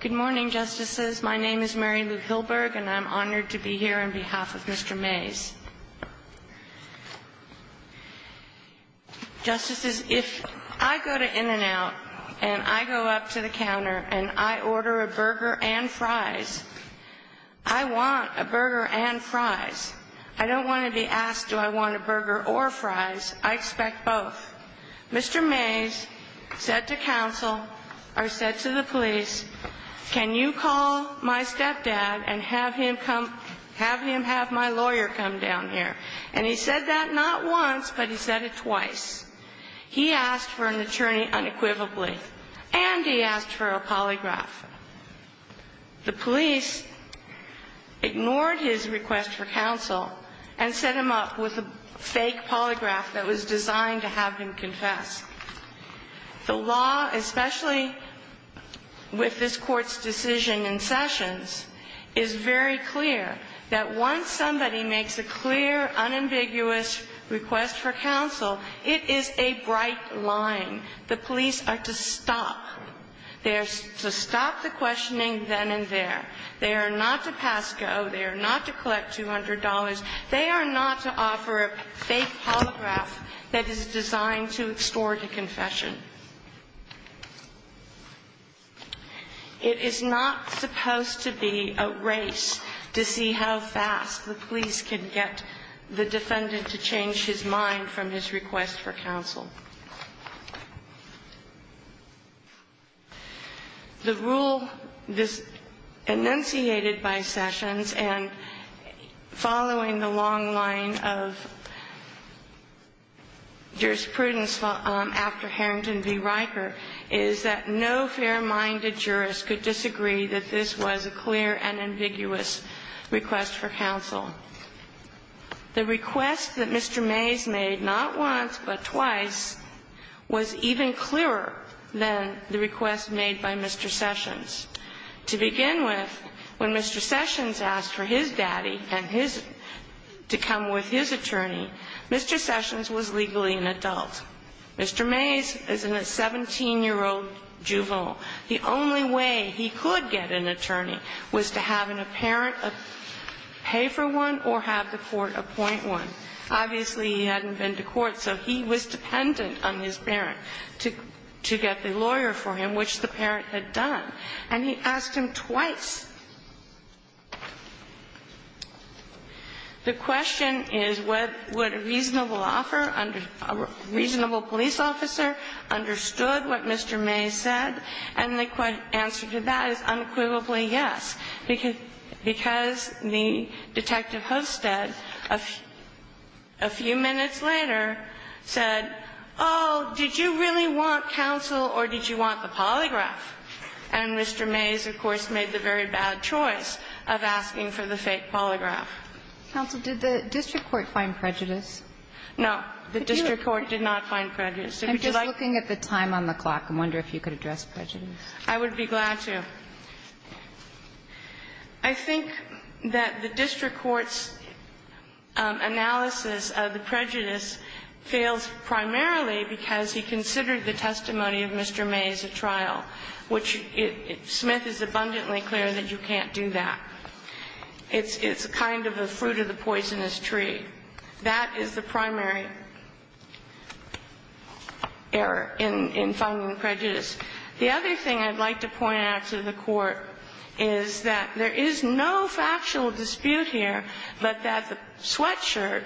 Good morning, Justices. My name is Mary Lou Hillberg, and I'm honored to be here on behalf of Mr. Mays. Justices, if I go to In-N-Out and I go up to the counter and I order a burger and fries, I want a burger and fries. I don't want to be asked do I want a burger or fries. I expect both. Mr. Mays said to counsel or said to the police, can you call my stepdad and have him have my lawyer come down here? And he said that not once, but he said it twice. He asked for an attorney unequivocally, and he asked for a polygraph. The police ignored his request for counsel and set him up with a fake polygraph that was designed to have him confess. The law, especially with this Court's decision in Sessions, is very clear that once somebody makes a clear, unambiguous request for counsel, it is a bright line. The police are to stop. They are to stop the questioning then and there. They are not to pass go. They are not to collect $200. They are not to offer a fake polygraph that is designed to extort a confession. It is not supposed to be a race to see how fast the police can get the defendant to change his mind from his request for counsel. The rule enunciated by Sessions and following the long line of jurisprudence after Harrington v. Riker is that no fair-minded jurist could disagree that this was a clear, unambiguous request for counsel. The request that Mr. Mays made not once but twice was even clearer than the request made by Mr. Sessions. To begin with, when Mr. Sessions asked for his daddy and his to come with his attorney, Mr. Sessions was legally an adult. Mr. Mays is a 17-year-old juvenile. The only way he could get an attorney was to have a parent pay for one or have the court appoint one. Obviously, he hadn't been to court, so he was dependent on his parent to get the lawyer for him, which the parent had done. And he asked him twice. The question is, would a reasonable offer, a reasonable police officer understood what Mr. Mays said? And the answer to that is unequivocally yes, because the Detective Hosted, a few minutes later, said, oh, did you really want counsel or did you want the polygraph? And Mr. Mays, of course, made the very bad choice of asking for the fake polygraph. Kagan, did the district court find prejudice? No, the district court did not find prejudice. I'm just looking at the time on the clock and wonder if you could address prejudice. I would be glad to. I think that the district court's analysis of the prejudice fails primarily because he considered the testimony of Mr. Mays a trial, which Smith is abundantly clear that you can't do that. It's kind of the fruit of the poisonous tree. That is the primary error in finding prejudice. The other thing I'd like to point out to the Court is that there is no factual dispute here, but that the sweatshirt,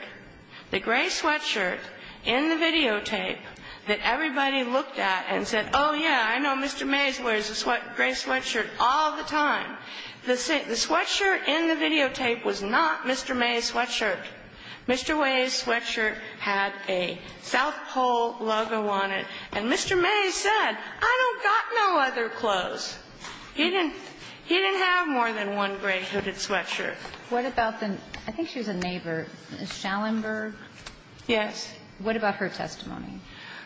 the gray sweatshirt in the videotape that everybody looked at and said, oh, yeah, I know Mr. Mays wears a gray sweatshirt all the time. The sweatshirt in the videotape was not Mr. Mays' sweatshirt. Mr. Way's sweatshirt had a South Pole logo on it. And Mr. Mays said, I don't got no other clothes. He didn't have more than one gray hooded sweatshirt. What about the ñ I think she was a neighbor. Is it Schellenberg? Yes. What about her testimony?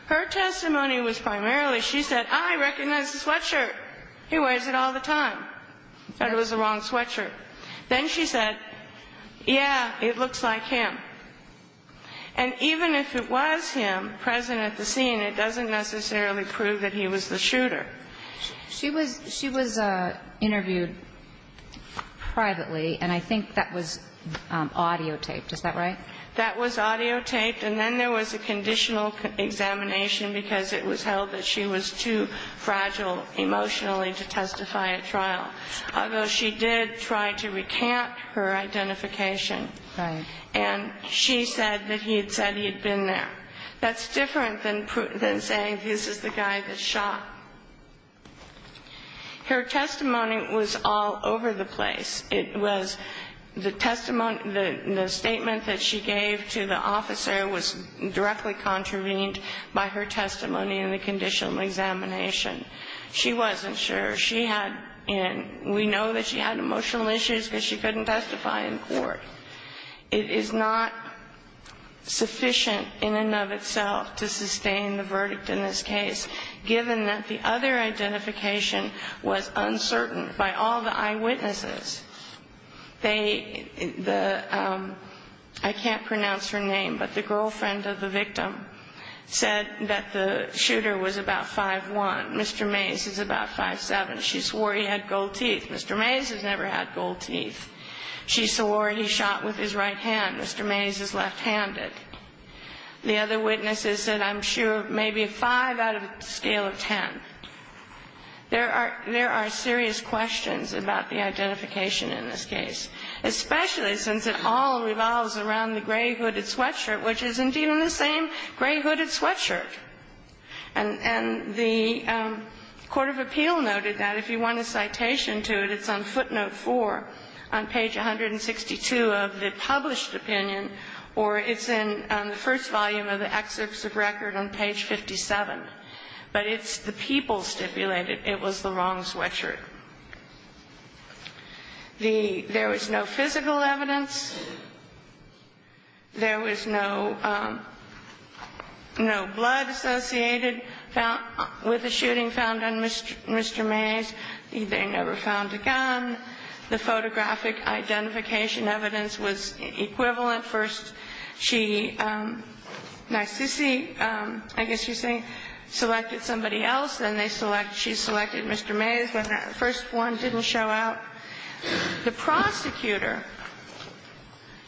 Her testimony was primarily she said, I recognize the sweatshirt. He wears it all the time. I thought it was the wrong sweatshirt. Then she said, yeah, it looks like him. And even if it was him present at the scene, it doesn't necessarily prove that he was the shooter. She was interviewed privately, and I think that was audiotaped. Is that right? That was audiotaped. And then there was a conditional examination because it was held that she was too fragile emotionally to testify at trial. Although she did try to recant her identification. Right. And she said that he had said he had been there. That's different than saying this is the guy that shot. Her testimony was all over the place. It was the testimony ñ the statement that she gave to the officer was directly contravened by her testimony in the conditional examination. She wasn't sure. She had ñ and we know that she had emotional issues because she couldn't testify in court. It is not sufficient in and of itself to sustain the verdict in this case, given that the other identification was uncertain by all the eyewitnesses. They ñ the ñ I can't pronounce her name, but the girlfriend of the victim said that the shooter was about 5'1", Mr. Mays is about 5'7". She swore he had gold teeth. Mr. Mays has never had gold teeth. She swore he shot with his right hand. Mr. Mays is left-handed. The other witnesses said, I'm sure, maybe a 5 out of a scale of 10. There are ñ there are serious questions about the identification in this case, especially since it all revolves around the gray-hooded sweatshirt, which is indeed in the same gray-hooded sweatshirt. And the court of appeal noted that if you want a citation to it, it's on footnote 4 on page 162 of the published opinion, or it's in the first volume of the excerpts of record on page 57. But it's the people stipulated it was the wrong sweatshirt. The ñ there was no physical evidence. There was no ñ no blood associated with the shooting found on Mr. Mays. They never found a gun. The photographic identification evidence was equivalent. First, she ñ Narcisi, I guess you're saying, selected somebody else. Then they select ñ she selected Mr. Mays. The first one didn't show up. The prosecutor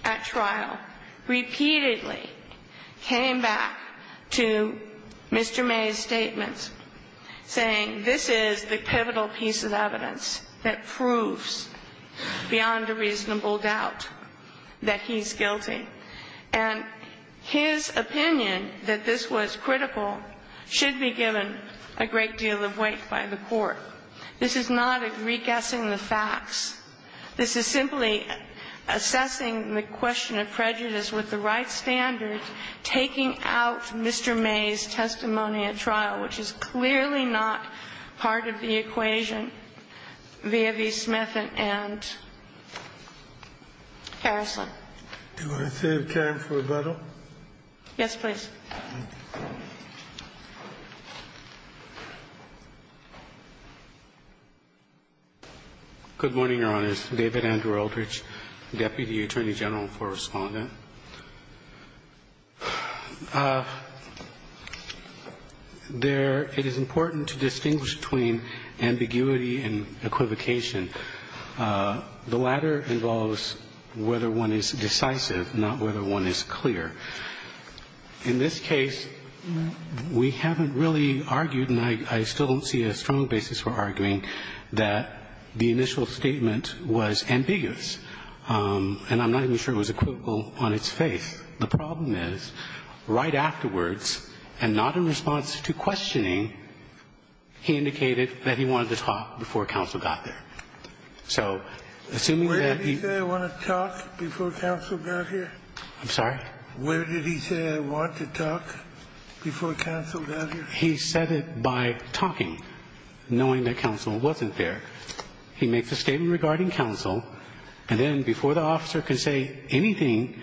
at trial repeatedly came back to Mr. Mays' statements saying, this is the pivotal piece of evidence that proves beyond a reasonable doubt that he's guilty. And his opinion that this was critical should be given a great deal of weight by the court. This is not a reguessing the facts. This is simply assessing the question of prejudice with the right standards, taking out Mr. Mays' testimony at trial, which is clearly not part of the equation via the Smith and Harrison. Do I have time for rebuttal? Yes, please. Thank you. Good morning, Your Honors. David Andrew Eldridge, Deputy Attorney General for Respondent. There ñ it is important to distinguish between ambiguity and equivocation. The latter involves whether one is decisive, not whether one is clear. In this case, we haven't really argued, and I still don't see a strong basis for arguing, that the initial statement was ambiguous. And I'm not even sure it was equivocal on its face. The problem is, right afterwards, and not in response to questioning, he indicated that he wanted to talk before counsel got there. So assuming that he ñ Where did he say, I want to talk before counsel got here? I'm sorry? Where did he say, I want to talk before counsel got here? He said it by talking, knowing that counsel wasn't there. He makes a statement regarding counsel, and then before the officer can say anything,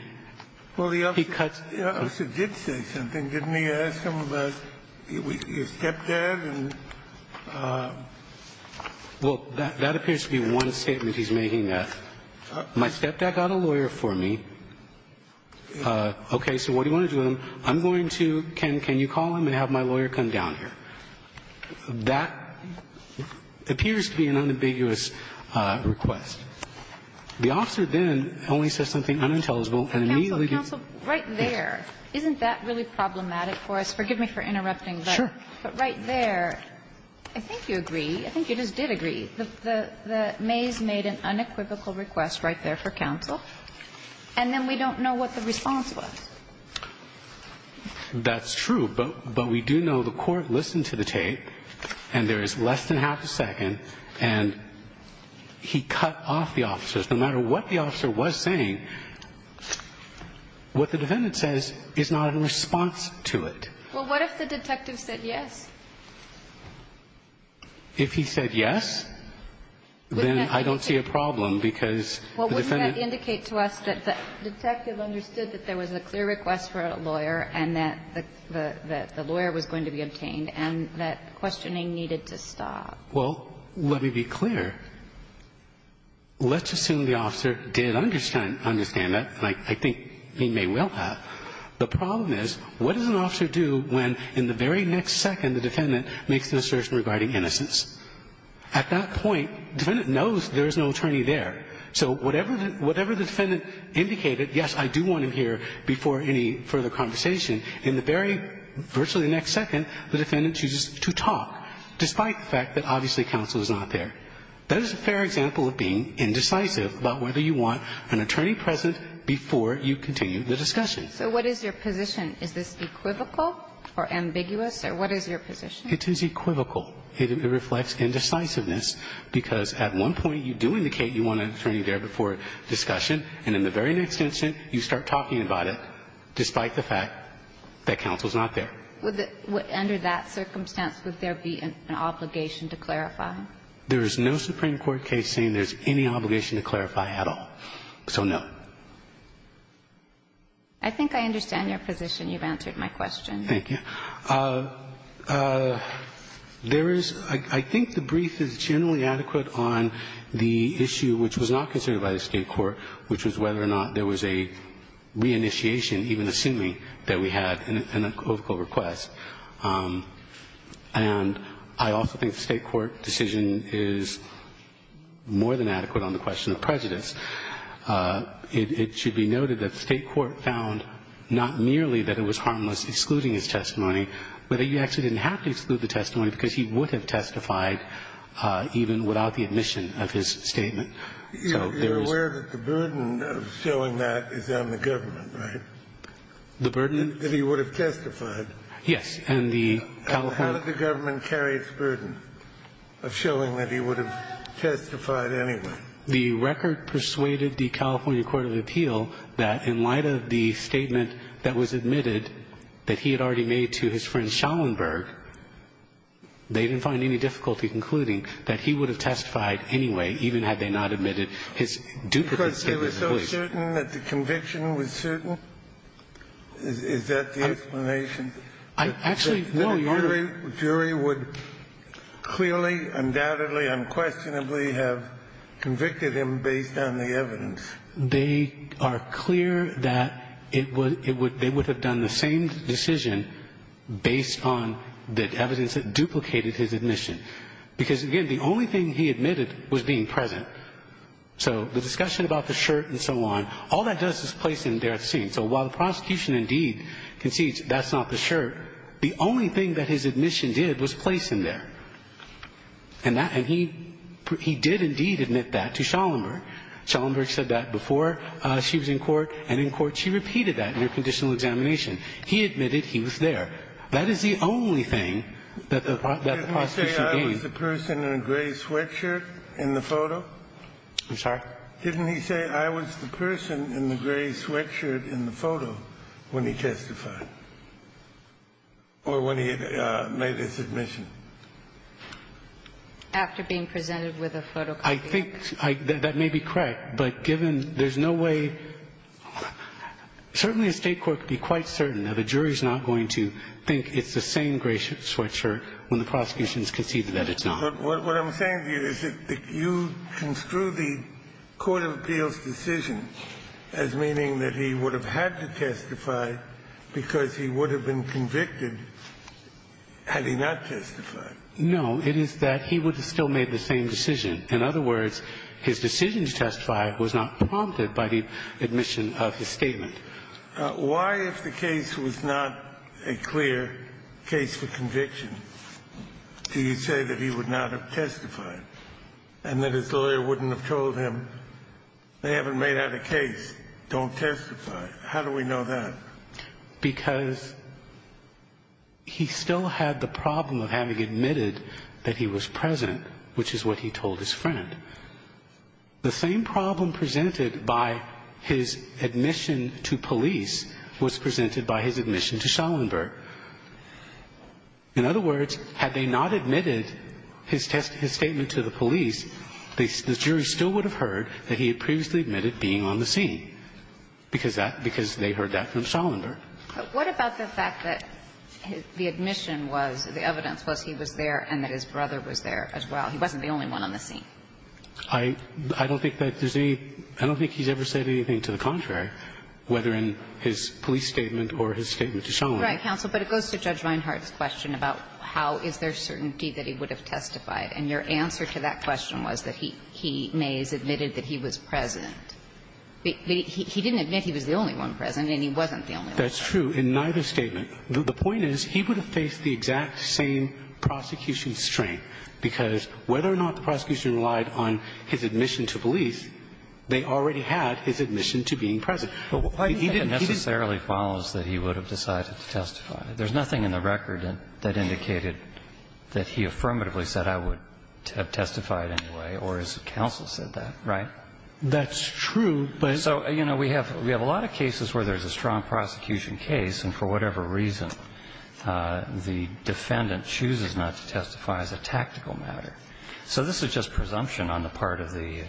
he cuts ñ Well, the officer did say something. Didn't he ask him about your stepdad? Well, that appears to be one statement he's making, yes. My stepdad got a lawyer for me. Okay. So what do you want to do with him? I'm going to ñ can you call him and have my lawyer come down here? That appears to be an unambiguous request. The officer then only says something unintelligible and immediately ñ Counsel, counsel, right there, isn't that really problematic for us? Forgive me for interrupting, but ñ Sure. But right there, I think you agree. I think you just did agree. The Mays made an unequivocal request right there for counsel, and then we don't know what the response was. That's true, but we do know the court listened to the tape, and there is less than half a second, and he cut off the officer. No matter what the officer was saying, what the defendant says is not in response to it. Well, what if the detective said yes? If he said yes, then I don't see a problem, because the defendant ñ Well, let me be clear. Let's assume the officer did understand that, and I think he may well have. The problem is, what does an officer do when, in the very next second, the defendant makes an assertion regarding innocence? At that point, the defendant knows there is no attorney there. So whatever the defendant indicated, yes, I do want him here, before he goes to court, in the very ñ virtually the next second, the defendant chooses to talk, despite the fact that, obviously, counsel is not there. That is a fair example of being indecisive about whether you want an attorney present before you continue the discussion. So what is your position? Is this equivocal or ambiguous, or what is your position? It is equivocal. It reflects indecisiveness, because at one point, you do indicate you want an attorney there before discussion, and in the very next instant, you start talking about it, despite the fact that counsel is not there. Under that circumstance, would there be an obligation to clarify? There is no Supreme Court case saying there is any obligation to clarify at all. So, no. I think I understand your position. You've answered my question. Thank you. There is ñ I think the brief is generally adequate on the issue, which was not considered by the State court, which was whether or not there was a reinitiation, even assuming that we had an equivocal request. And I also think the State court decision is more than adequate on the question of prejudice. It should be noted that the State court found not merely that it was harmless excluding his testimony, but that you actually didn't have to exclude the testimony because he would have testified even without the admission of his statement. So there was ñ You're aware that the burden of showing that is on the government, right? The burden ñ That he would have testified. Yes. And the California ñ How did the government carry its burden of showing that he would have testified anyway? The record persuaded the California court of appeal that in light of the statement that was admitted that he had already made to his friend Schallenberg, they didn't have any difficulty concluding that he would have testified anyway, even had they not admitted his duplicated statement. Because they were so certain that the conviction was certain? Is that the explanation? I actually ñ no, Your Honor. The jury would clearly, undoubtedly, unquestionably have convicted him based on the evidence. They are clear that it would ñ they would have done the same decision based on the admission. Because, again, the only thing he admitted was being present. So the discussion about the shirt and so on, all that does is place him there at the scene. So while the prosecution indeed concedes that's not the shirt, the only thing that his admission did was place him there. And that ñ and he did indeed admit that to Schallenberg. Schallenberg said that before she was in court, and in court she repeated that in her conditional examination. He admitted he was there. That is the only thing that the prosecution gained. Didn't he say I was the person in the gray sweatshirt in the photo? I'm sorry? Didn't he say I was the person in the gray sweatshirt in the photo when he testified or when he made his admission? After being presented with a photocopy. I think that may be correct. But given ñ there's no way ñ certainly a State court could be quite certain that a jury is not going to think it's the same gray sweatshirt when the prosecution has conceded that it's not. But what I'm saying to you is that you construe the court of appeals decision as meaning that he would have had to testify because he would have been convicted had he not testified. No. It is that he would have still made the same decision. In other words, his decision to testify was not prompted by the admission of his statement. Why, if the case was not a clear case for conviction, do you say that he would not have testified and that his lawyer wouldn't have told him they haven't made out a case, don't testify? How do we know that? Because he still had the problem of having admitted that he was present, which is what he told his friend. The same problem presented by his admission to police was presented by his admission to Schallenberg. In other words, had they not admitted his test ñ his statement to the police, the jury still would have heard that he had previously admitted being on the scene because that ñ because they heard that from Schallenberg. But what about the fact that the admission was ñ the evidence was he was there and that his brother was there as well? He wasn't the only one on the scene. I don't think that there's any ñ I don't think he's ever said anything to the contrary, whether in his police statement or his statement to Schallenberg. Right, counsel, but it goes to Judge Reinhart's question about how is there certainty that he would have testified. And your answer to that question was that he may have admitted that he was present. But he didn't admit he was the only one present and he wasn't the only one present. That's true in neither statement. The point is he would have faced the exact same prosecution strain, because whether or not the prosecution relied on his admission to police, they already had his admission to being present. He didn't ñ he didn't ñ But why do you think it necessarily follows that he would have decided to testify? There's nothing in the record that indicated that he affirmatively said, I would have testified anyway, or his counsel said that, right? That's true, but ñ So, you know, we have ñ we have a lot of cases where there's a strong prosecution case, and for whatever reason, the defendant chooses not to testify as a tactical matter. So this is just presumption on the part of the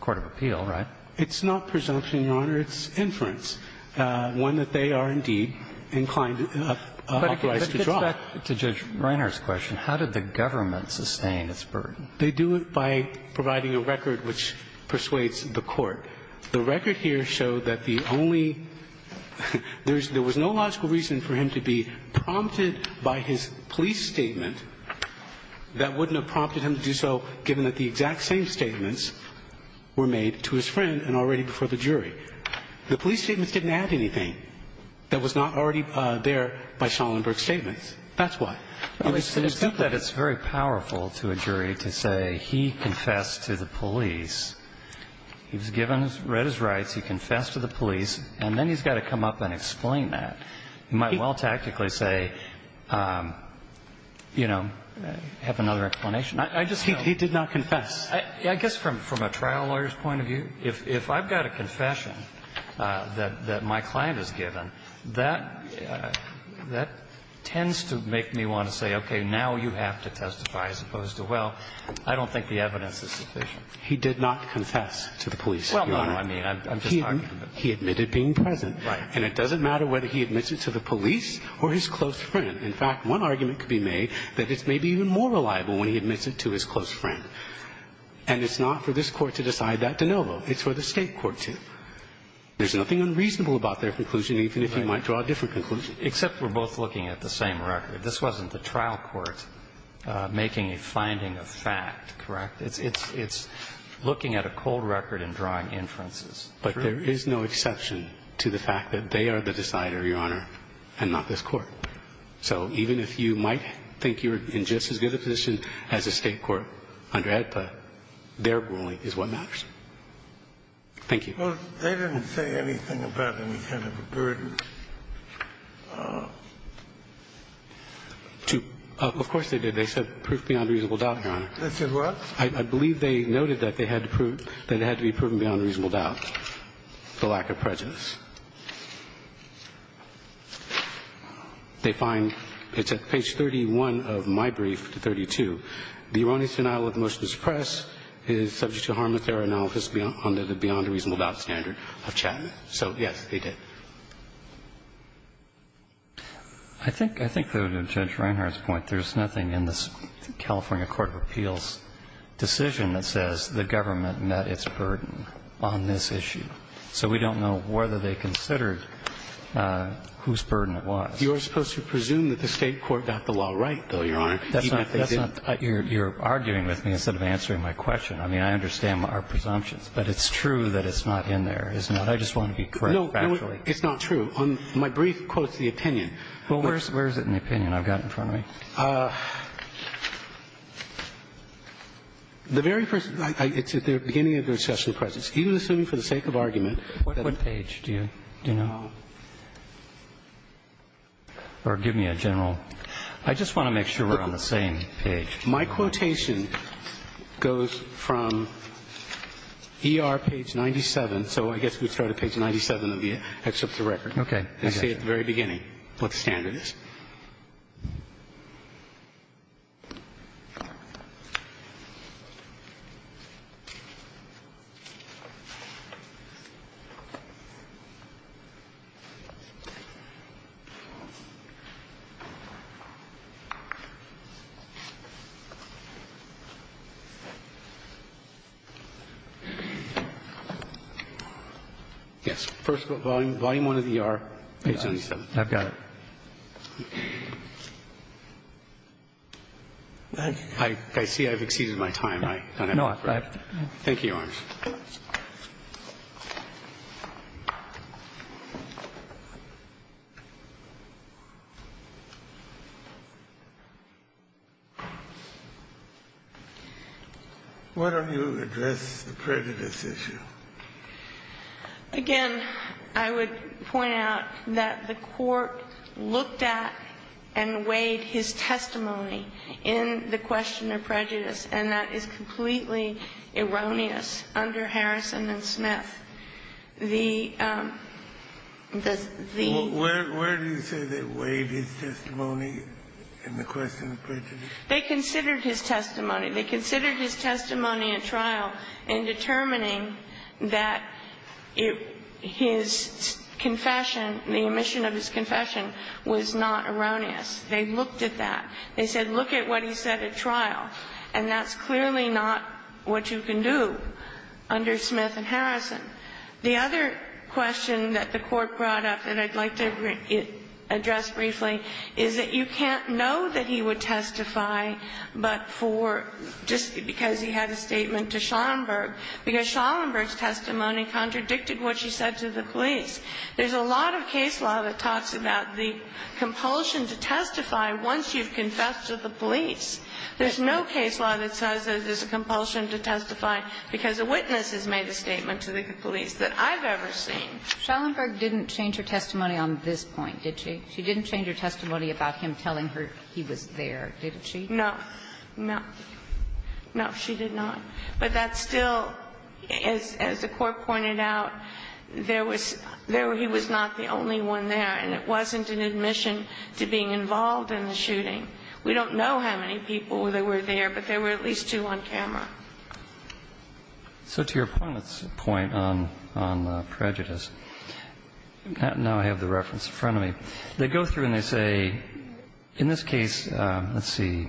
court of appeal, right? It's not presumption, Your Honor. It's inference, one that they are indeed inclined to draw. But it gets back to Judge Reinhart's question. How did the government sustain its burden? They do it by providing a record which persuades the court. The record here showed that the only ñ there was no logical reason for him to be prompted by his police statement that wouldn't have prompted him to do so given that the exact same statements were made to his friend and already before the jury. The police statements didn't add anything that was not already there by Schallenberg's statements. That's why. It was simply ñ It's very powerful to a jury to say he confessed to the police. He was given ñ read his rights. He confessed to the police. And then he's got to come up and explain that. He might well tactically say, you know, have another explanation. I just ñ he did not confess. I guess from a trial lawyer's point of view, if I've got a confession that my client has given, that tends to make me want to say, okay, now you have to testify as opposed to, well, I don't think the evidence is sufficient. He did not confess to the police. Well, no. I mean, I'm just talking about ñ He admitted being present. Right. And it doesn't matter whether he admits it to the police or his close friend. In fact, one argument could be made that it's maybe even more reliable when he admits it to his close friend. And it's not for this Court to decide that de novo. It's for the State court to. There's nothing unreasonable about their conclusion, even if you might draw a different conclusion. Except we're both looking at the same record. This wasn't the trial court making a finding of fact, correct? It's looking at a cold record and drawing inferences. But there is no exception to the fact that they are the decider, Your Honor, and not this Court. So even if you might think you're in just as good a position as a State court under AEDPA, their ruling is what matters. Thank you. Well, they didn't say anything about any kind of a burden. Of course they did. They said proof beyond reasonable doubt, Your Honor. They said what? I believe they noted that they had to prove that it had to be proven beyond reasonable doubt, the lack of prejudice. They find, it's at page 31 of my brief, to 32, the erroneous denial of the motion to suppress is subject to harm if there are analogous beyond the reasonable doubt standard of Chapman. So, yes, they did. I think, though, to Judge Reinhart's point, there's nothing in this California court of appeals decision that says the government met its burden on this issue. So we don't know whether they considered whose burden it was. You're supposed to presume that the State court got the law right, though, Your Honor. Even if they didn't. You're arguing with me instead of answering my question. I mean, I understand our presumptions. But it's true that it's not in there, isn't it? I just want to be correct. No, it's not true. My brief quotes the opinion. Well, where is it in the opinion I've got in front of me? The very first, it's at the beginning of the discussion of presence. Even assuming for the sake of argument. What page do you know? Or give me a general. I just want to make sure we're on the same page. My quotation goes from ER page 97. So I guess we'd start at page 97 of the excerpt of the record. Okay. And say at the very beginning what standard is. Yes. First of all, volume 1 of the ER, page 97. I've got it. I see I've exceeded my time. I don't have time. Thank you, Your Honor. Why don't you address the prejudice issue? Again, I would point out that the Court looked at and weighed his testimony in the question of prejudice, and that is completely erroneous under Harrison and Smith. The the the. Where do you say they weighed his testimony in the question of prejudice? They considered his testimony. They considered his testimony at trial in determining that his confession, the omission of his confession, was not erroneous. They looked at that. They said, look at what he said at trial. And that's clearly not what you can do under Smith and Harrison. The other question that the Court brought up that I'd like to address briefly is that you can't know that he would testify but for just because he had a statement to Schallenberg, because Schallenberg's testimony contradicted what she said to the police. There's a lot of case law that talks about the compulsion to testify once you've confessed to the police. There's no case law that says that there's a compulsion to testify because a witness has made a statement to the police that I've ever seen. Schallenberg didn't change her testimony on this point, did she? She didn't change her testimony about him telling her he was there, did she? No. No. No, she did not. But that's still, as the Court pointed out, there was he was not the only one there, and it wasn't an admission to being involved in the shooting. We don't know how many people there were there, but there were at least two on camera. So to your point on prejudice, now I have the reference in front of me. They go through and they say, in this case, let's see,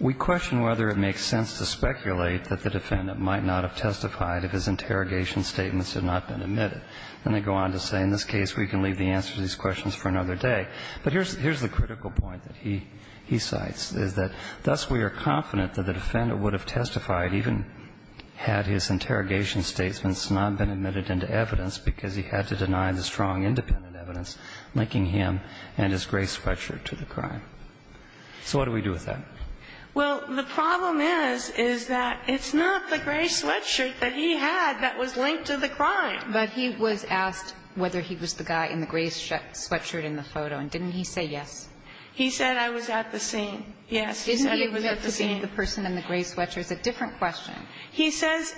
we question whether it makes sense to speculate that the defendant might not have testified if his interrogation statements had not been admitted. And they go on to say, in this case, we can leave the answers to these questions for another day. But here's the critical point that he cites, is that thus we are confident that the defendant would have testified even had his interrogation statements not been admitted into evidence, because he had to deny the strong independent evidence linking him and his gray sweatshirt to the crime. So what do we do with that? Well, the problem is, is that it's not the gray sweatshirt that he had that was linked to the crime. But he was asked whether he was the guy in the gray sweatshirt in the photo, and didn't he say yes? He said I was at the scene. Yes, he said he was at the scene. Didn't he admit to being the person in the gray sweatshirt? It's a different question. He says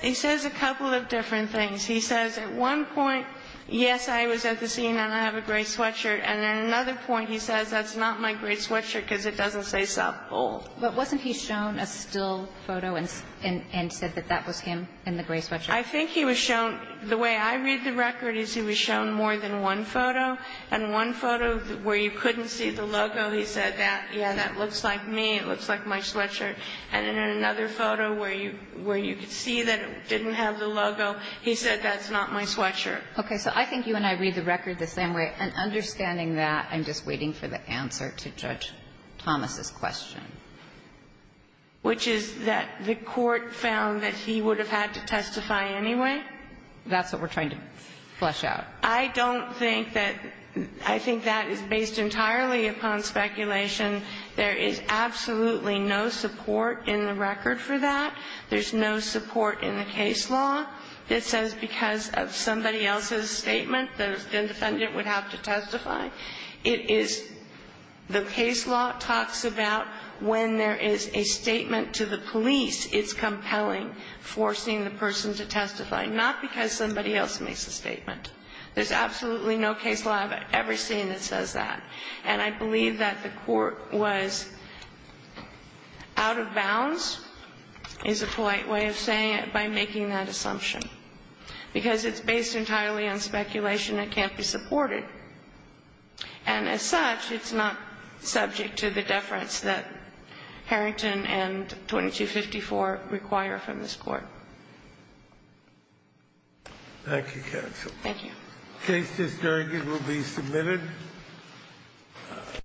a couple of different things. He says at one point, yes, I was at the scene and I have a gray sweatshirt. And at another point, he says that's not my gray sweatshirt because it doesn't say South Pole. But wasn't he shown a still photo and said that that was him in the gray sweatshirt? I think he was shown the way I read the record is he was shown more than one photo, and one photo where you couldn't see the logo, he said, yeah, that looks like me. It looks like my sweatshirt. And then in another photo where you could see that it didn't have the logo, he said that's not my sweatshirt. Okay. So I think you and I read the record the same way. And understanding that, I'm just waiting for the answer to Judge Thomas's question. Which is that the court found that he would have had to testify anyway? That's what we're trying to flesh out. I don't think that – I think that is based entirely upon speculation. There is absolutely no support in the record for that. There's no support in the case law that says because of somebody else's statement, the defendant would have to testify. It is – the case law talks about when there is a statement to the police, it's compelling forcing the person to testify, not because somebody else makes the statement. There's absolutely no case law I've ever seen that says that. And I believe that the court was out of bounds, is a polite way of saying it, by making that assumption. Because it's based entirely on speculation. It can't be supported. And as such, it's not subject to the deference that Harrington and 2254 require from this Court. Thank you, counsel. Thank you. The case is adjourned. It will be submitted.